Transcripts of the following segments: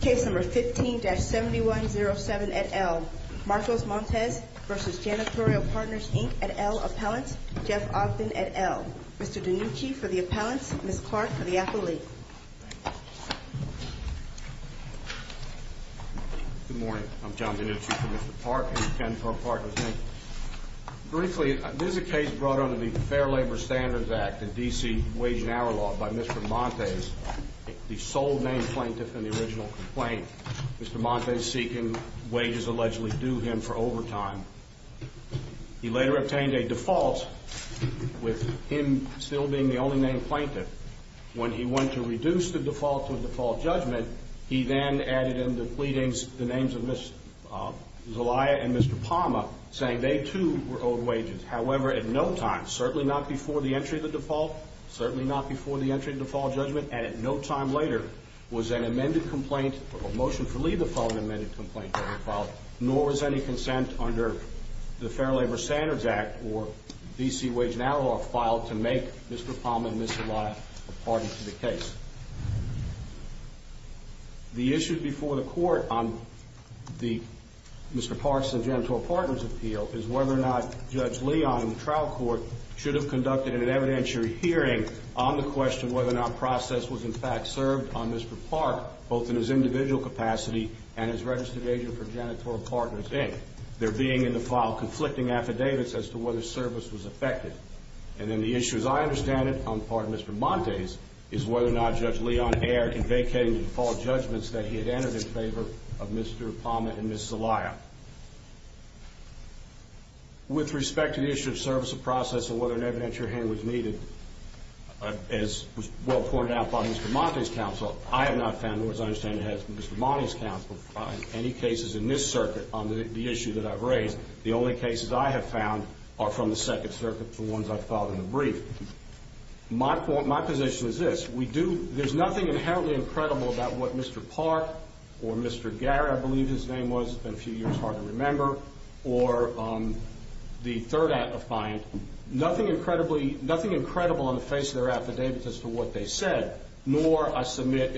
Case No. 15-7107, et al., Marcos Montes v. Janitorial Partners, Inc., et al., Appellants, Jeff Ogden, et al. Mr. DiNucci for the Appellants, Ms. Clark for the Appellate. Good morning. I'm John DiNucci for Mr. Clark and for Janitorial Partners, Inc. Briefly, this is a case brought under the Fair Labor Standards Act of D.C. Wage and Hour Law by Mr. Montes, the sole named plaintiff in the original complaint. Mr. Montes seeking wages allegedly due him for overtime. He later obtained a default with him still being the only named plaintiff. When he went to reduce the default to a default judgment, he then added in the pleadings the names of Ms. Zelaya and Mr. Palma, saying they too were owed wages. However, at no time, certainly not before the entry of the default, certainly not before the entry of the default judgment, and at no time later was an amended complaint or motion to leave the following amended complaint being filed, nor was any consent under the Fair Labor Standards Act or D.C. Wage and Hour Law filed to make Mr. Palma and Ms. Zelaya a party to the case. The issue before the Court on Mr. Park's and Janitorial Partners' appeal is whether or not Judge Leon in the trial court should have conducted an evidentiary hearing on the question whether or not process was in fact served on Mr. Park, both in his individual capacity and as registered agent for Janitorial Partners, Inc., there being in the file conflicting affidavits as to whether service was effected. And then the issue, as I understand it, on the part of Mr. Montes, is whether or not Judge Leon erred in vacating the default judgments that he had entered in favor of Mr. Palma and Ms. Zelaya. With respect to the issue of service of process and whether an evidentiary hearing was needed, as was well pointed out by Mr. Montes' counsel, I have not found, nor as I understand it has Mr. Montes' counsel, in any cases in this circuit on the issue that I've raised. The only cases I have found are from the Second Circuit, the ones I filed in the brief. My position is this. There's nothing inherently incredible about what Mr. Park or Mr. Garrett, I believe his name was, it's been a few years, hard to remember, or the third client. Nothing incredible on the face of their affidavits as to what they said, nor I submit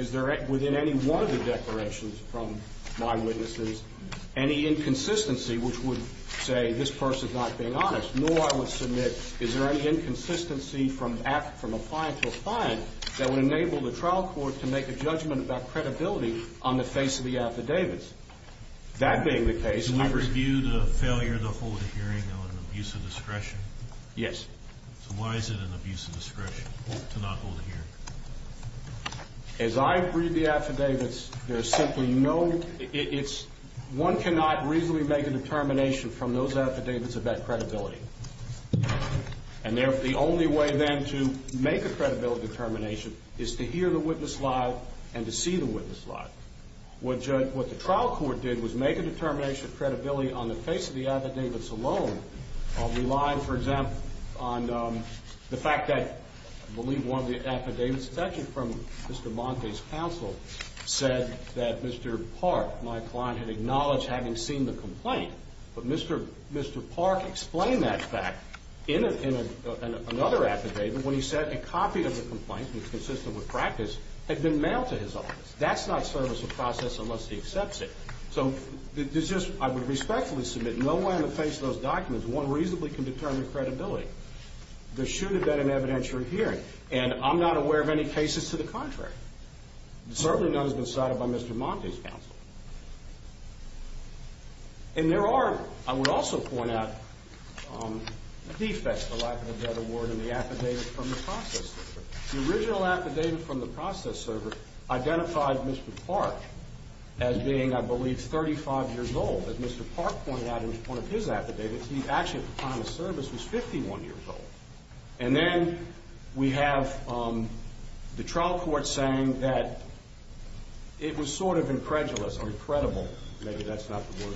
within any one of the declarations from my witnesses any inconsistency which would say this person's not being honest, nor I would submit is there any inconsistency from a client to a client that would enable the trial court to make a judgment about credibility on the face of the affidavits. That being the case, I would... Do we review the failure to hold a hearing on abuse of discretion? Yes. So why is it an abuse of discretion to not hold a hearing? As I read the affidavits, there's simply no... One cannot reasonably make a determination from those affidavits about credibility. And the only way then to make a credibility determination is to hear the witness lie and to see the witness lie. What the trial court did was make a determination of credibility on the face of the affidavits alone, relying, for example, on the fact that I believe one of the affidavits, in this section from Mr. Monte's counsel, said that Mr. Park, my client, had acknowledged having seen the complaint. But Mr. Park explained that fact in another affidavit when he said a copy of the complaint, which consisted of a practice, had been mailed to his office. That's not service of process unless he accepts it. So I would respectfully submit no way on the face of those documents one reasonably can determine credibility. There should have been an evidentiary hearing. And I'm not aware of any cases to the contrary. Certainly none has been cited by Mr. Monte's counsel. And there are, I would also point out, defects, the lack of a debt award and the affidavit from the process server. The original affidavit from the process server identified Mr. Park as being, I believe, 35 years old. As Mr. Park pointed out in one of his affidavits, he actually, at the time of service, was 51 years old. And then we have the trial court saying that it was sort of incredulous or incredible, maybe that's not the word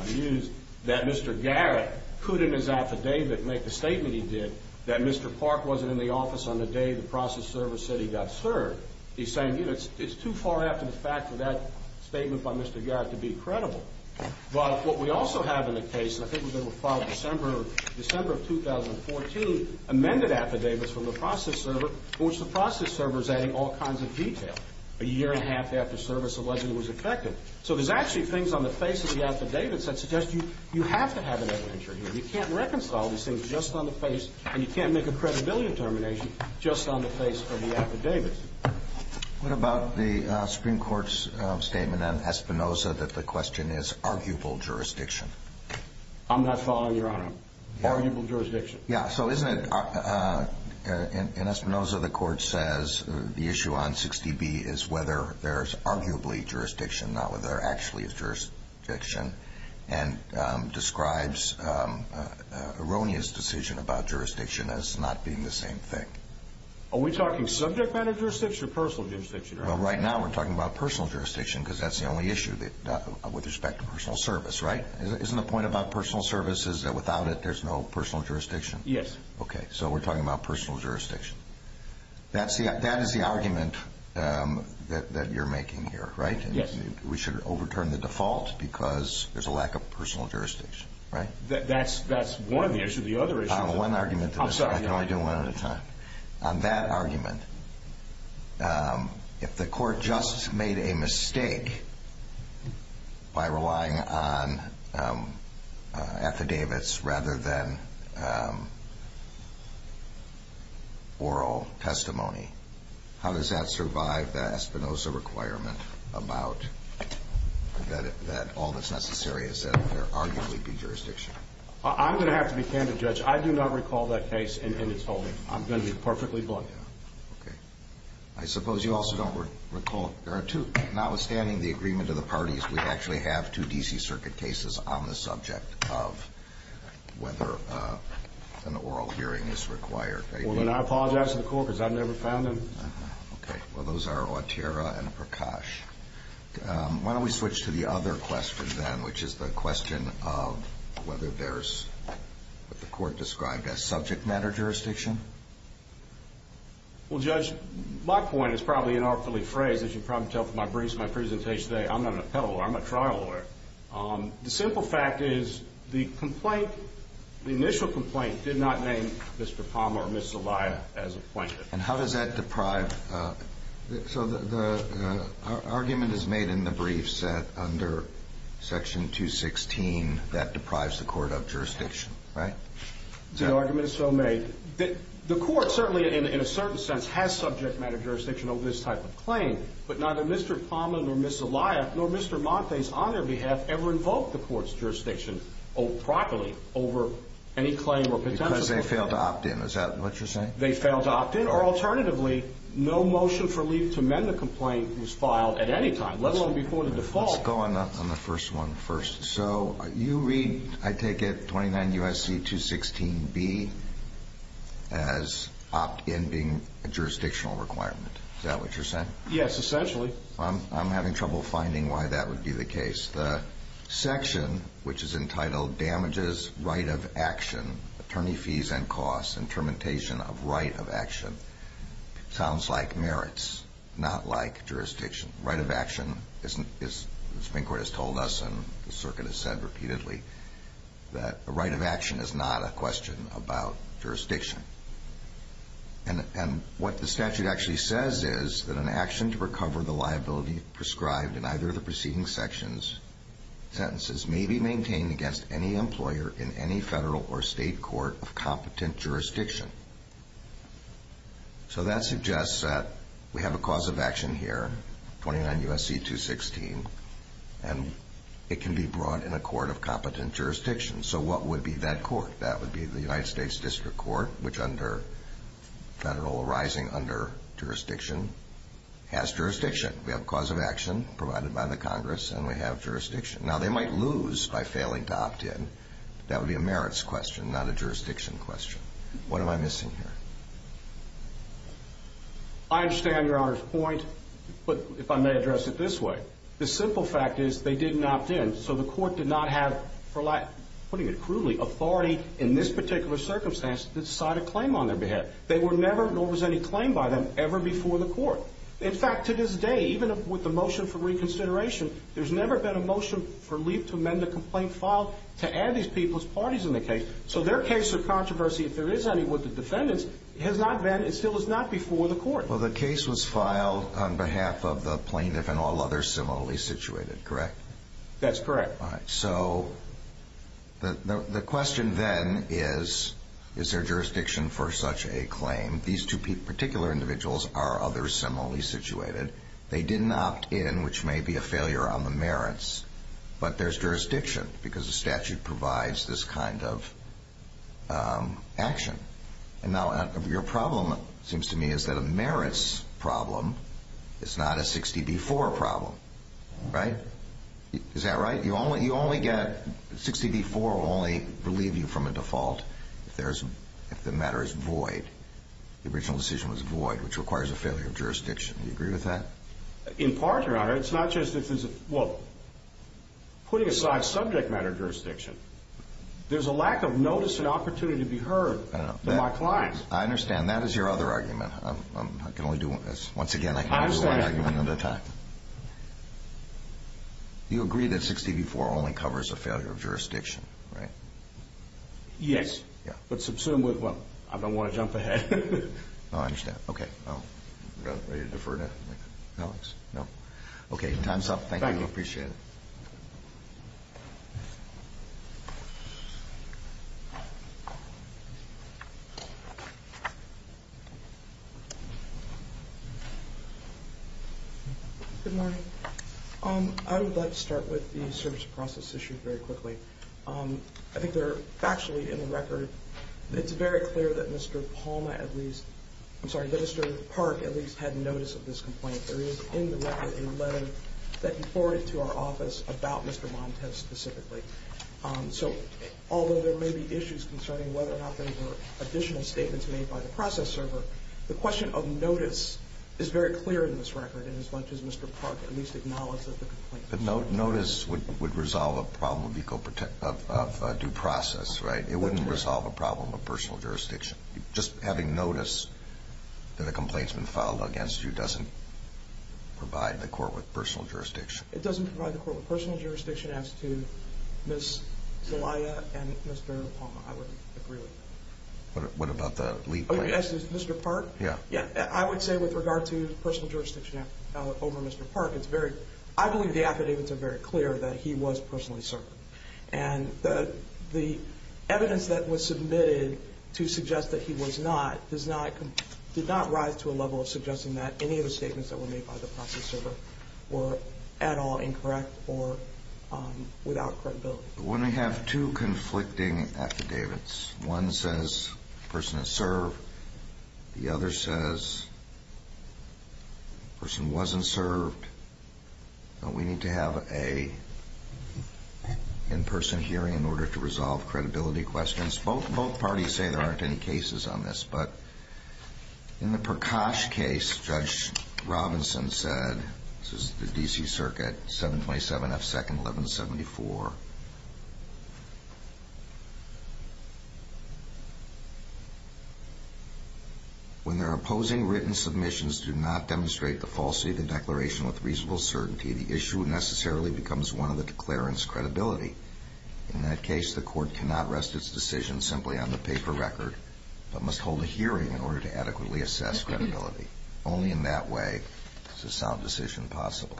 I use, that Mr. Garrett could, in his affidavit, make the statement he did that Mr. Park wasn't in the office on the day the process server said he got served. He's saying, you know, it's too far after the fact for that statement by Mr. Garrett to be credible. But what we also have in the case, and I think we're going to follow December of 2014, amended affidavits from the process server in which the process server is adding all kinds of detail. A year and a half after service, allegedly was infected. So there's actually things on the face of the affidavits that suggest you have to have an evidentiary. You can't reconcile these things just on the face, and you can't make a credibility determination just on the face of the affidavits. What about the Supreme Court's statement on Espinoza that the question is arguable jurisdiction? I'm not following, Your Honor. Arguable jurisdiction. Yeah, so isn't it, in Espinoza, the court says the issue on 60B is whether there's arguably jurisdiction, not whether there actually is jurisdiction, and describes erroneous decision about jurisdiction as not being the same thing. Are we talking subject matter jurisdiction or personal jurisdiction, Your Honor? Well, right now we're talking about personal jurisdiction because that's the only issue with respect to personal service, right? Isn't the point about personal service is that without it there's no personal jurisdiction? Yes. Okay, so we're talking about personal jurisdiction. That is the argument that you're making here, right? Yes. We should overturn the default because there's a lack of personal jurisdiction, right? That's one issue. One argument to this. I'm sorry. I can only do one at a time. On that argument, if the court just made a mistake by relying on affidavits rather than oral testimony, how does that survive the Espinoza requirement about that all that's necessary is that there arguably be jurisdiction? I'm going to have to be candid, Judge. I do not recall that case in its holding. I'm going to be perfectly blunt. Okay. I suppose you also don't recall there are two, notwithstanding the agreement of the parties, we actually have two D.C. Circuit cases on the subject of whether an oral hearing is required. Well, then I apologize to the court because I've never found them. Okay. Well, those are Otero and Prakash. Why don't we switch to the other question then, which is the question of whether there's what the court described as subject matter jurisdiction? Well, Judge, my point is probably inartfully phrased, as you can probably tell from my briefs and my presentation today. I'm not an appellate lawyer. I'm a trial lawyer. The simple fact is the initial complaint did not name Mr. Palmer or Ms. Zelaya as a plaintiff. And how does that deprive? So the argument is made in the briefs under Section 216 that deprives the court of jurisdiction, right? The argument is so made. The court certainly in a certain sense has subject matter jurisdiction over this type of claim, but neither Mr. Palmer nor Ms. Zelaya nor Mr. Montes on their behalf ever invoked the court's jurisdiction properly over any claim or potential complaint. Because they failed to opt in. Is that what you're saying? They failed to opt in. Or alternatively, no motion for leave to amend the complaint was filed at any time, let alone before the default. Let's go on the first one first. So you read, I take it, 29 U.S.C. 216B as opt in being a jurisdictional requirement. Is that what you're saying? Yes, essentially. I'm having trouble finding why that would be the case. The section, which is entitled damages right of action, attorney fees and costs, and termination of right of action, sounds like merits, not like jurisdiction. Right of action, as the Supreme Court has told us and the circuit has said repeatedly, that a right of action is not a question about jurisdiction. And what the statute actually says is that an action to recover the liability prescribed in either of the preceding sentences may be maintained against any employer in any federal or state court of competent jurisdiction. So that suggests that we have a cause of action here, 29 U.S.C. 216, and it can be brought in a court of competent jurisdiction. So what would be that court? That would be the United States District Court, which under federal arising under jurisdiction, has jurisdiction. We have cause of action provided by the Congress, and we have jurisdiction. Now, they might lose by failing to opt in. That would be a merits question, not a jurisdiction question. What am I missing here? I understand Your Honor's point, but if I may address it this way. The simple fact is they didn't opt in, so the court did not have, for lack of putting it crudely, authority in this particular circumstance to decide a claim on their behalf. There never was any claim by them ever before the court. In fact, to this day, even with the motion for reconsideration, there's never been a motion for leave to amend a complaint filed to add these people's parties in the case. So their case of controversy, if there is any with the defendants, has not been, it still is not before the court. Well, the case was filed on behalf of the plaintiff and all others similarly situated, correct? That's correct. All right. So the question then is, is there jurisdiction for such a claim? These two particular individuals are others similarly situated. They didn't opt in, which may be a failure on the merits, but there's jurisdiction because the statute provides this kind of action. And now your problem, it seems to me, is that a merits problem is not a 60B4 problem, right? Is that right? 60B4 will only relieve you from a default if the matter is void, the original decision was void, which requires a failure of jurisdiction. Do you agree with that? In part, Your Honor. It's not just if there's a, well, putting aside subject matter jurisdiction, there's a lack of notice and opportunity to be heard by my clients. I understand. That is your other argument. I can only do one. Once again, I can only do one argument at a time. I understand. You agree that 60B4 only covers a failure of jurisdiction, right? Yes. Yeah. But subsequently, well, I don't want to jump ahead. I understand. Okay. Ready to defer to Alex? No. Okay. Time's up. Thank you. I appreciate it. Good morning. I would like to start with the service process issue very quickly. I think they're factually in the record. It's very clear that Mr. Palmer at least, I'm sorry, that Mr. Park at least had notice of this complaint. There is in the record a letter that he forwarded to our office about Mr. Montez specifically. So although there may be issues concerning whether or not there were additional statements made by the process server, the question of notice is very clear in this record, in as much as Mr. Park at least acknowledged that the complaint was filed. But notice would resolve a problem of due process, right? It wouldn't resolve a problem of personal jurisdiction. Just having notice that a complaint's been filed against you doesn't provide the court with personal jurisdiction. It doesn't provide the court with personal jurisdiction as to Ms. Zelaya and Mr. Palmer. I wouldn't agree with that. What about the lead plaintiff? Mr. Park? Yeah. I would say with regard to personal jurisdiction over Mr. Park, I believe the affidavits are very clear that he was personally served. And the evidence that was submitted to suggest that he was not did not rise to a level of suggesting that any of the statements that were made by the process server were at all incorrect or without credibility. When we have two conflicting affidavits, one says the person is served. The other says the person wasn't served. We need to have an in-person hearing in order to resolve credibility questions. Both parties say there aren't any cases on this. But in the Prakash case, Judge Robinson said, this is the D.C. Circuit, 727 F. 2nd, 1174. When their opposing written submissions do not demonstrate the falsity of the declaration with reasonable certainty, the issue necessarily becomes one of the declarant's credibility. In that case, the court cannot rest its decision simply on the paper record, but must hold a hearing in order to adequately assess credibility. Only in that way is a sound decision possible.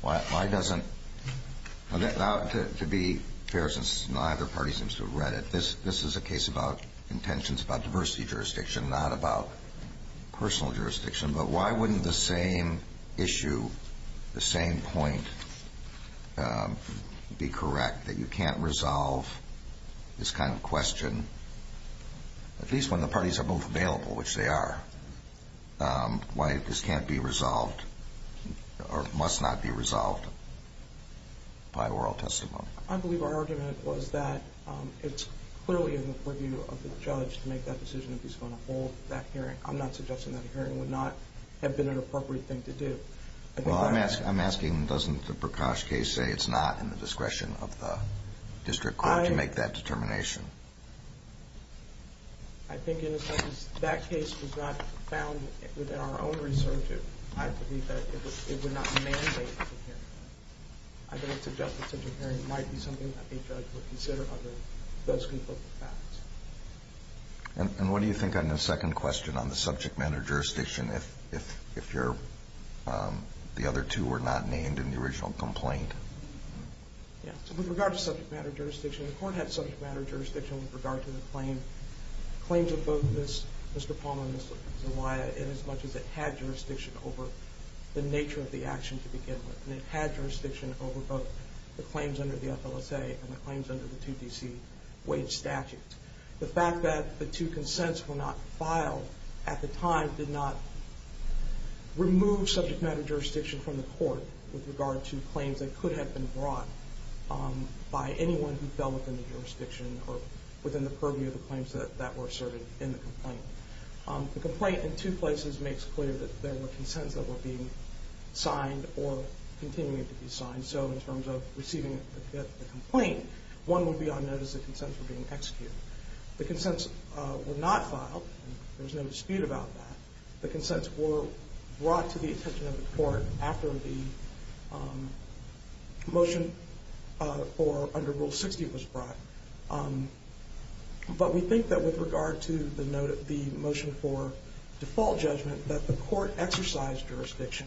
Why doesn't – to be fair, since neither party seems to have read it, this is a case about intentions about diversity jurisdiction, not about personal jurisdiction. But why wouldn't the same issue, the same point be correct, that you can't resolve this kind of question, at least when the parties are both available, which they are, why this can't be resolved or must not be resolved by oral testimony? I believe our argument was that it's clearly in the purview of the judge to make that decision if he's going to hold that hearing. I'm not suggesting that a hearing would not have been an appropriate thing to do. Well, I'm asking, doesn't the Prakash case say it's not in the discretion of the district court to make that determination? I think, in a sense, that case was not found within our own research. I believe that it would not mandate a hearing. I don't suggest that such a hearing might be something that a judge would consider other than those conflicting facts. And what do you think on the second question on the subject matter jurisdiction, if your other two were not named in the original complaint? Yeah. So with regard to subject matter jurisdiction, the Court had subject matter jurisdiction with regard to the claims of both Mr. Palmer and Ms. Zewaia in as much as it had jurisdiction over the nature of the action to begin with. And it had jurisdiction over both the claims under the FLSA and the claims under the 2DC wage statute. The fact that the two consents were not filed at the time did not remove subject matter jurisdiction from the court with regard to claims that could have been brought by anyone who fell within the jurisdiction or within the purview of the claims that were asserted in the complaint. The complaint, in two places, makes clear that there were consents that were being signed or continuing to be signed. And so in terms of receiving the complaint, one would be on notice that consents were being executed. The consents were not filed. There was no dispute about that. The consents were brought to the attention of the court after the motion under Rule 60 was brought. But we think that with regard to the motion for default judgment, that the court exercised jurisdiction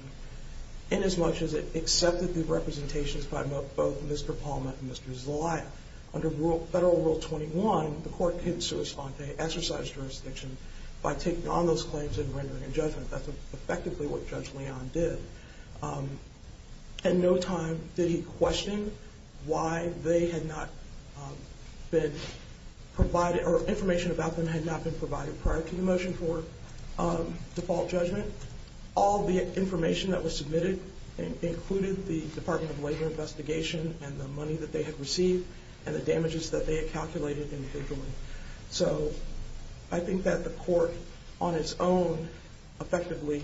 in as much as it accepted the representations by both Mr. Palmer and Ms. Zewaia. Under Federal Rule 21, the court could sui sante, exercise jurisdiction, by taking on those claims and rendering a judgment. That's effectively what Judge Leon did. At no time did he question why they had not been provided or information about them had not been provided prior to the motion for default judgment. All the information that was submitted included the Department of Labor investigation and the money that they had received and the damages that they had calculated individually. So I think that the court, on its own, effectively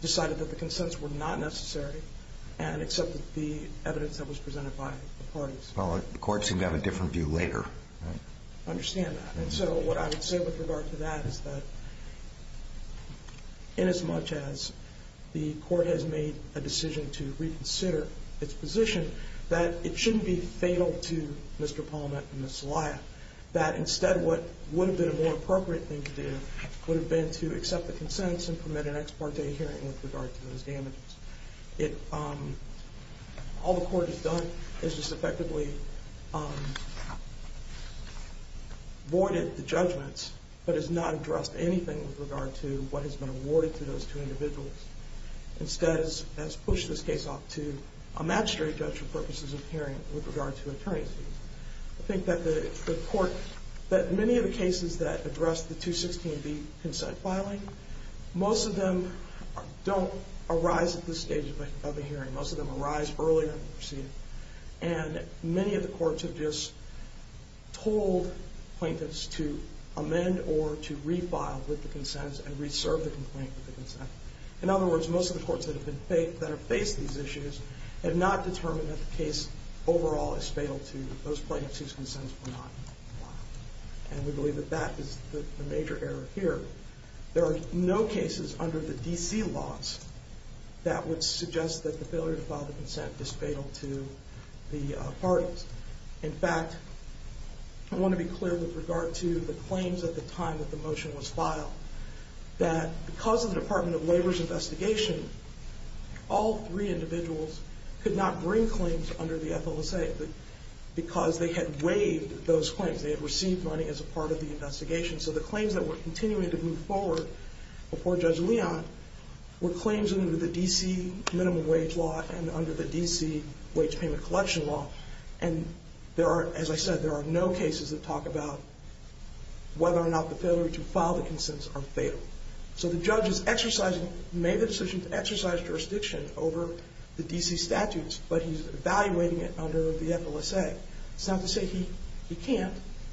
decided that the consents were not necessary and accepted the evidence that was presented by the parties. Well, the court seemed to have a different view later. I understand that. And so what I would say with regard to that is that, inasmuch as the court has made a decision to reconsider its position, that it shouldn't be fatal to Mr. Palmer and Ms. Zewaia, that instead what would have been a more appropriate thing to do would have been to accept the consents and permit an ex parte hearing with regard to those damages. All the court has done is just effectively voided the judgments, but has not addressed anything with regard to what has been awarded to those two individuals. Instead, it has pushed this case off to a magistrate judge for purposes of hearing with regard to attorney fees. I think that the court, that many of the cases that address the 216B consent filing, most of them don't arise at this stage of the hearing. Most of them arise early on in the proceeding. And many of the courts have just told plaintiffs to amend or to refile with the consents and reserve the complaint with the consents. In other words, most of the courts that have faced these issues have not determined that the case overall is fatal to those plaintiffs whose consents were not filed. And we believe that that is the major error here. There are no cases under the D.C. laws that would suggest that the failure to file the consent is fatal to the parties. In fact, I want to be clear with regard to the claims at the time that the motion was filed, that because of the Department of Labor's investigation, all three individuals could not bring claims under the FLSA because they had waived those claims. They had received money as a part of the investigation. So the claims that were continuing to move forward before Judge Leon were claims under the D.C. minimum wage law and under the D.C. wage payment collection law. And there are, as I said, there are no cases that talk about whether or not the failure to file the consents are fatal. So the judge has exercised, made the decision to exercise jurisdiction over the D.C. statutes, but he's evaluating it under the FLSA. It's not to say he can't.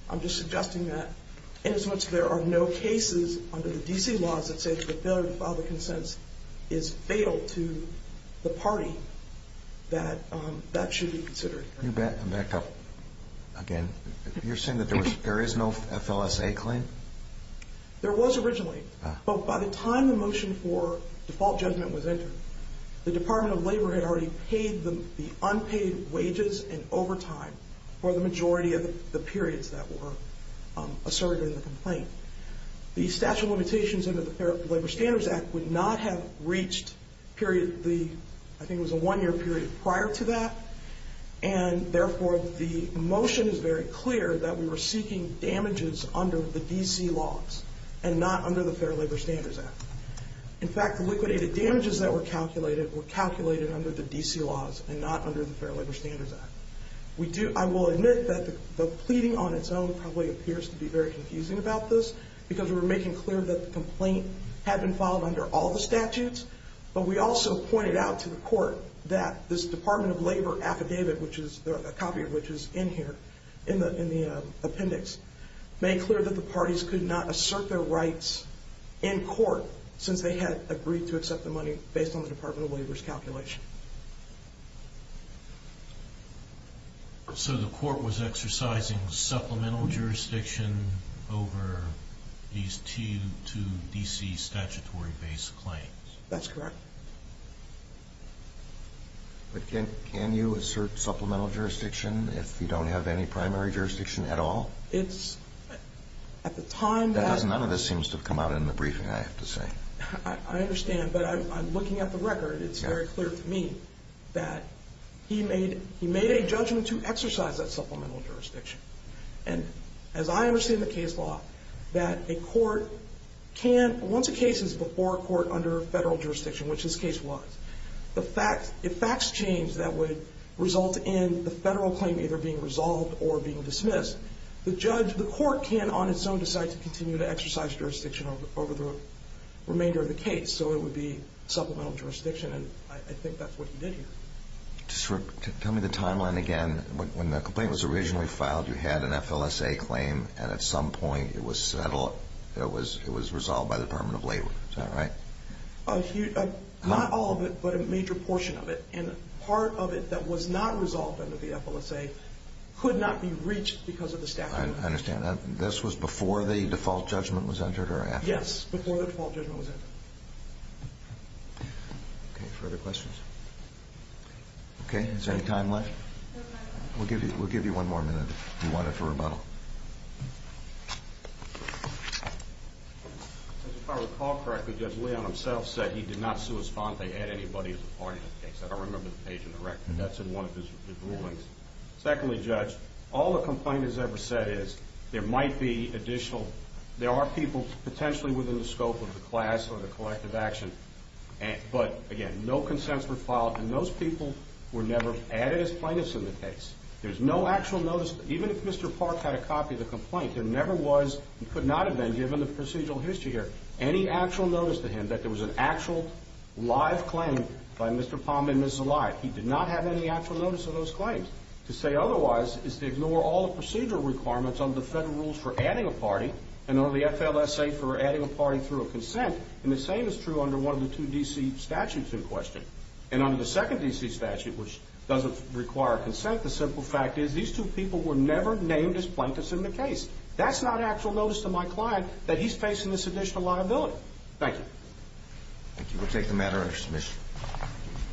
I'm just suggesting that inasmuch there are no cases under the D.C. laws that say that the failure to file the consents is fatal to the party, that that should be considered. I'm back up again. You're saying that there is no FLSA claim? There was originally. But by the time the motion for default judgment was entered, the Department of Labor had already paid the unpaid wages and overtime for the majority of the periods that were asserted in the complaint. The statute of limitations under the Labor Standards Act would not have reached the, I think it was a one-year period prior to that, and therefore the motion is very clear that we were seeking damages under the D.C. laws and not under the Fair Labor Standards Act. In fact, liquidated damages that were calculated were calculated under the D.C. laws and not under the Fair Labor Standards Act. I will admit that the pleading on its own probably appears to be very confusing about this because we were making clear that the complaint had been filed under all the statutes, but we also pointed out to the court that this Department of Labor affidavit, a copy of which is in here in the appendix, made clear that the parties could not assert their rights in court since they had agreed to accept the money based on the Department of Labor's calculation. So the court was exercising supplemental jurisdiction over these two D.C. statutory-based claims? That's correct. But can you assert supplemental jurisdiction if you don't have any primary jurisdiction at all? It's at the time that... It must have come out in the briefing, I have to say. I understand, but I'm looking at the record. It's very clear to me that he made a judgment to exercise that supplemental jurisdiction. And as I understand the case law, that a court can, once a case is before a court under federal jurisdiction, which this case was, if facts change that would result in the federal claim either being resolved or being dismissed, the court can on its own decide to continue to exercise jurisdiction over the remainder of the case. So it would be supplemental jurisdiction, and I think that's what he did here. Tell me the timeline again. When the complaint was originally filed, you had an FLSA claim, and at some point it was settled, it was resolved by the Department of Labor. Is that right? Not all of it, but a major portion of it. And part of it that was not resolved under the FLSA could not be reached because of the statute. I understand. This was before the default judgment was entered or after? Yes, before the default judgment was entered. Okay, further questions? Okay, is there any time left? We'll give you one more minute if you want it for rebuttal. If I recall correctly, Judge Leon himself said he did not sui sponte anybody as a part of the case. I don't remember the page in the record. That's in one of his rulings. Secondly, Judge, all the complaint has ever said is there might be additional, there are people potentially within the scope of the class or the collective action, but again, no consents were filed, and those people were never added as plaintiffs in the case. There's no actual notice, even if Mr. Park had a copy of the complaint, there never was and could not have been, given the procedural history here, any actual notice to him that there was an actual live claim by Mr. Palm and Mrs. Alive. He did not have any actual notice of those claims. To say otherwise is to ignore all the procedural requirements under the federal rules for adding a party and under the FLSA for adding a party through a consent, and the same is true under one of the two D.C. statutes in question. And under the second D.C. statute, which doesn't require consent, the simple fact is these two people were never named as plaintiffs in the case. That's not actual notice to my client that he's facing this additional liability. Thank you. Thank you. We'll take the matter under submission.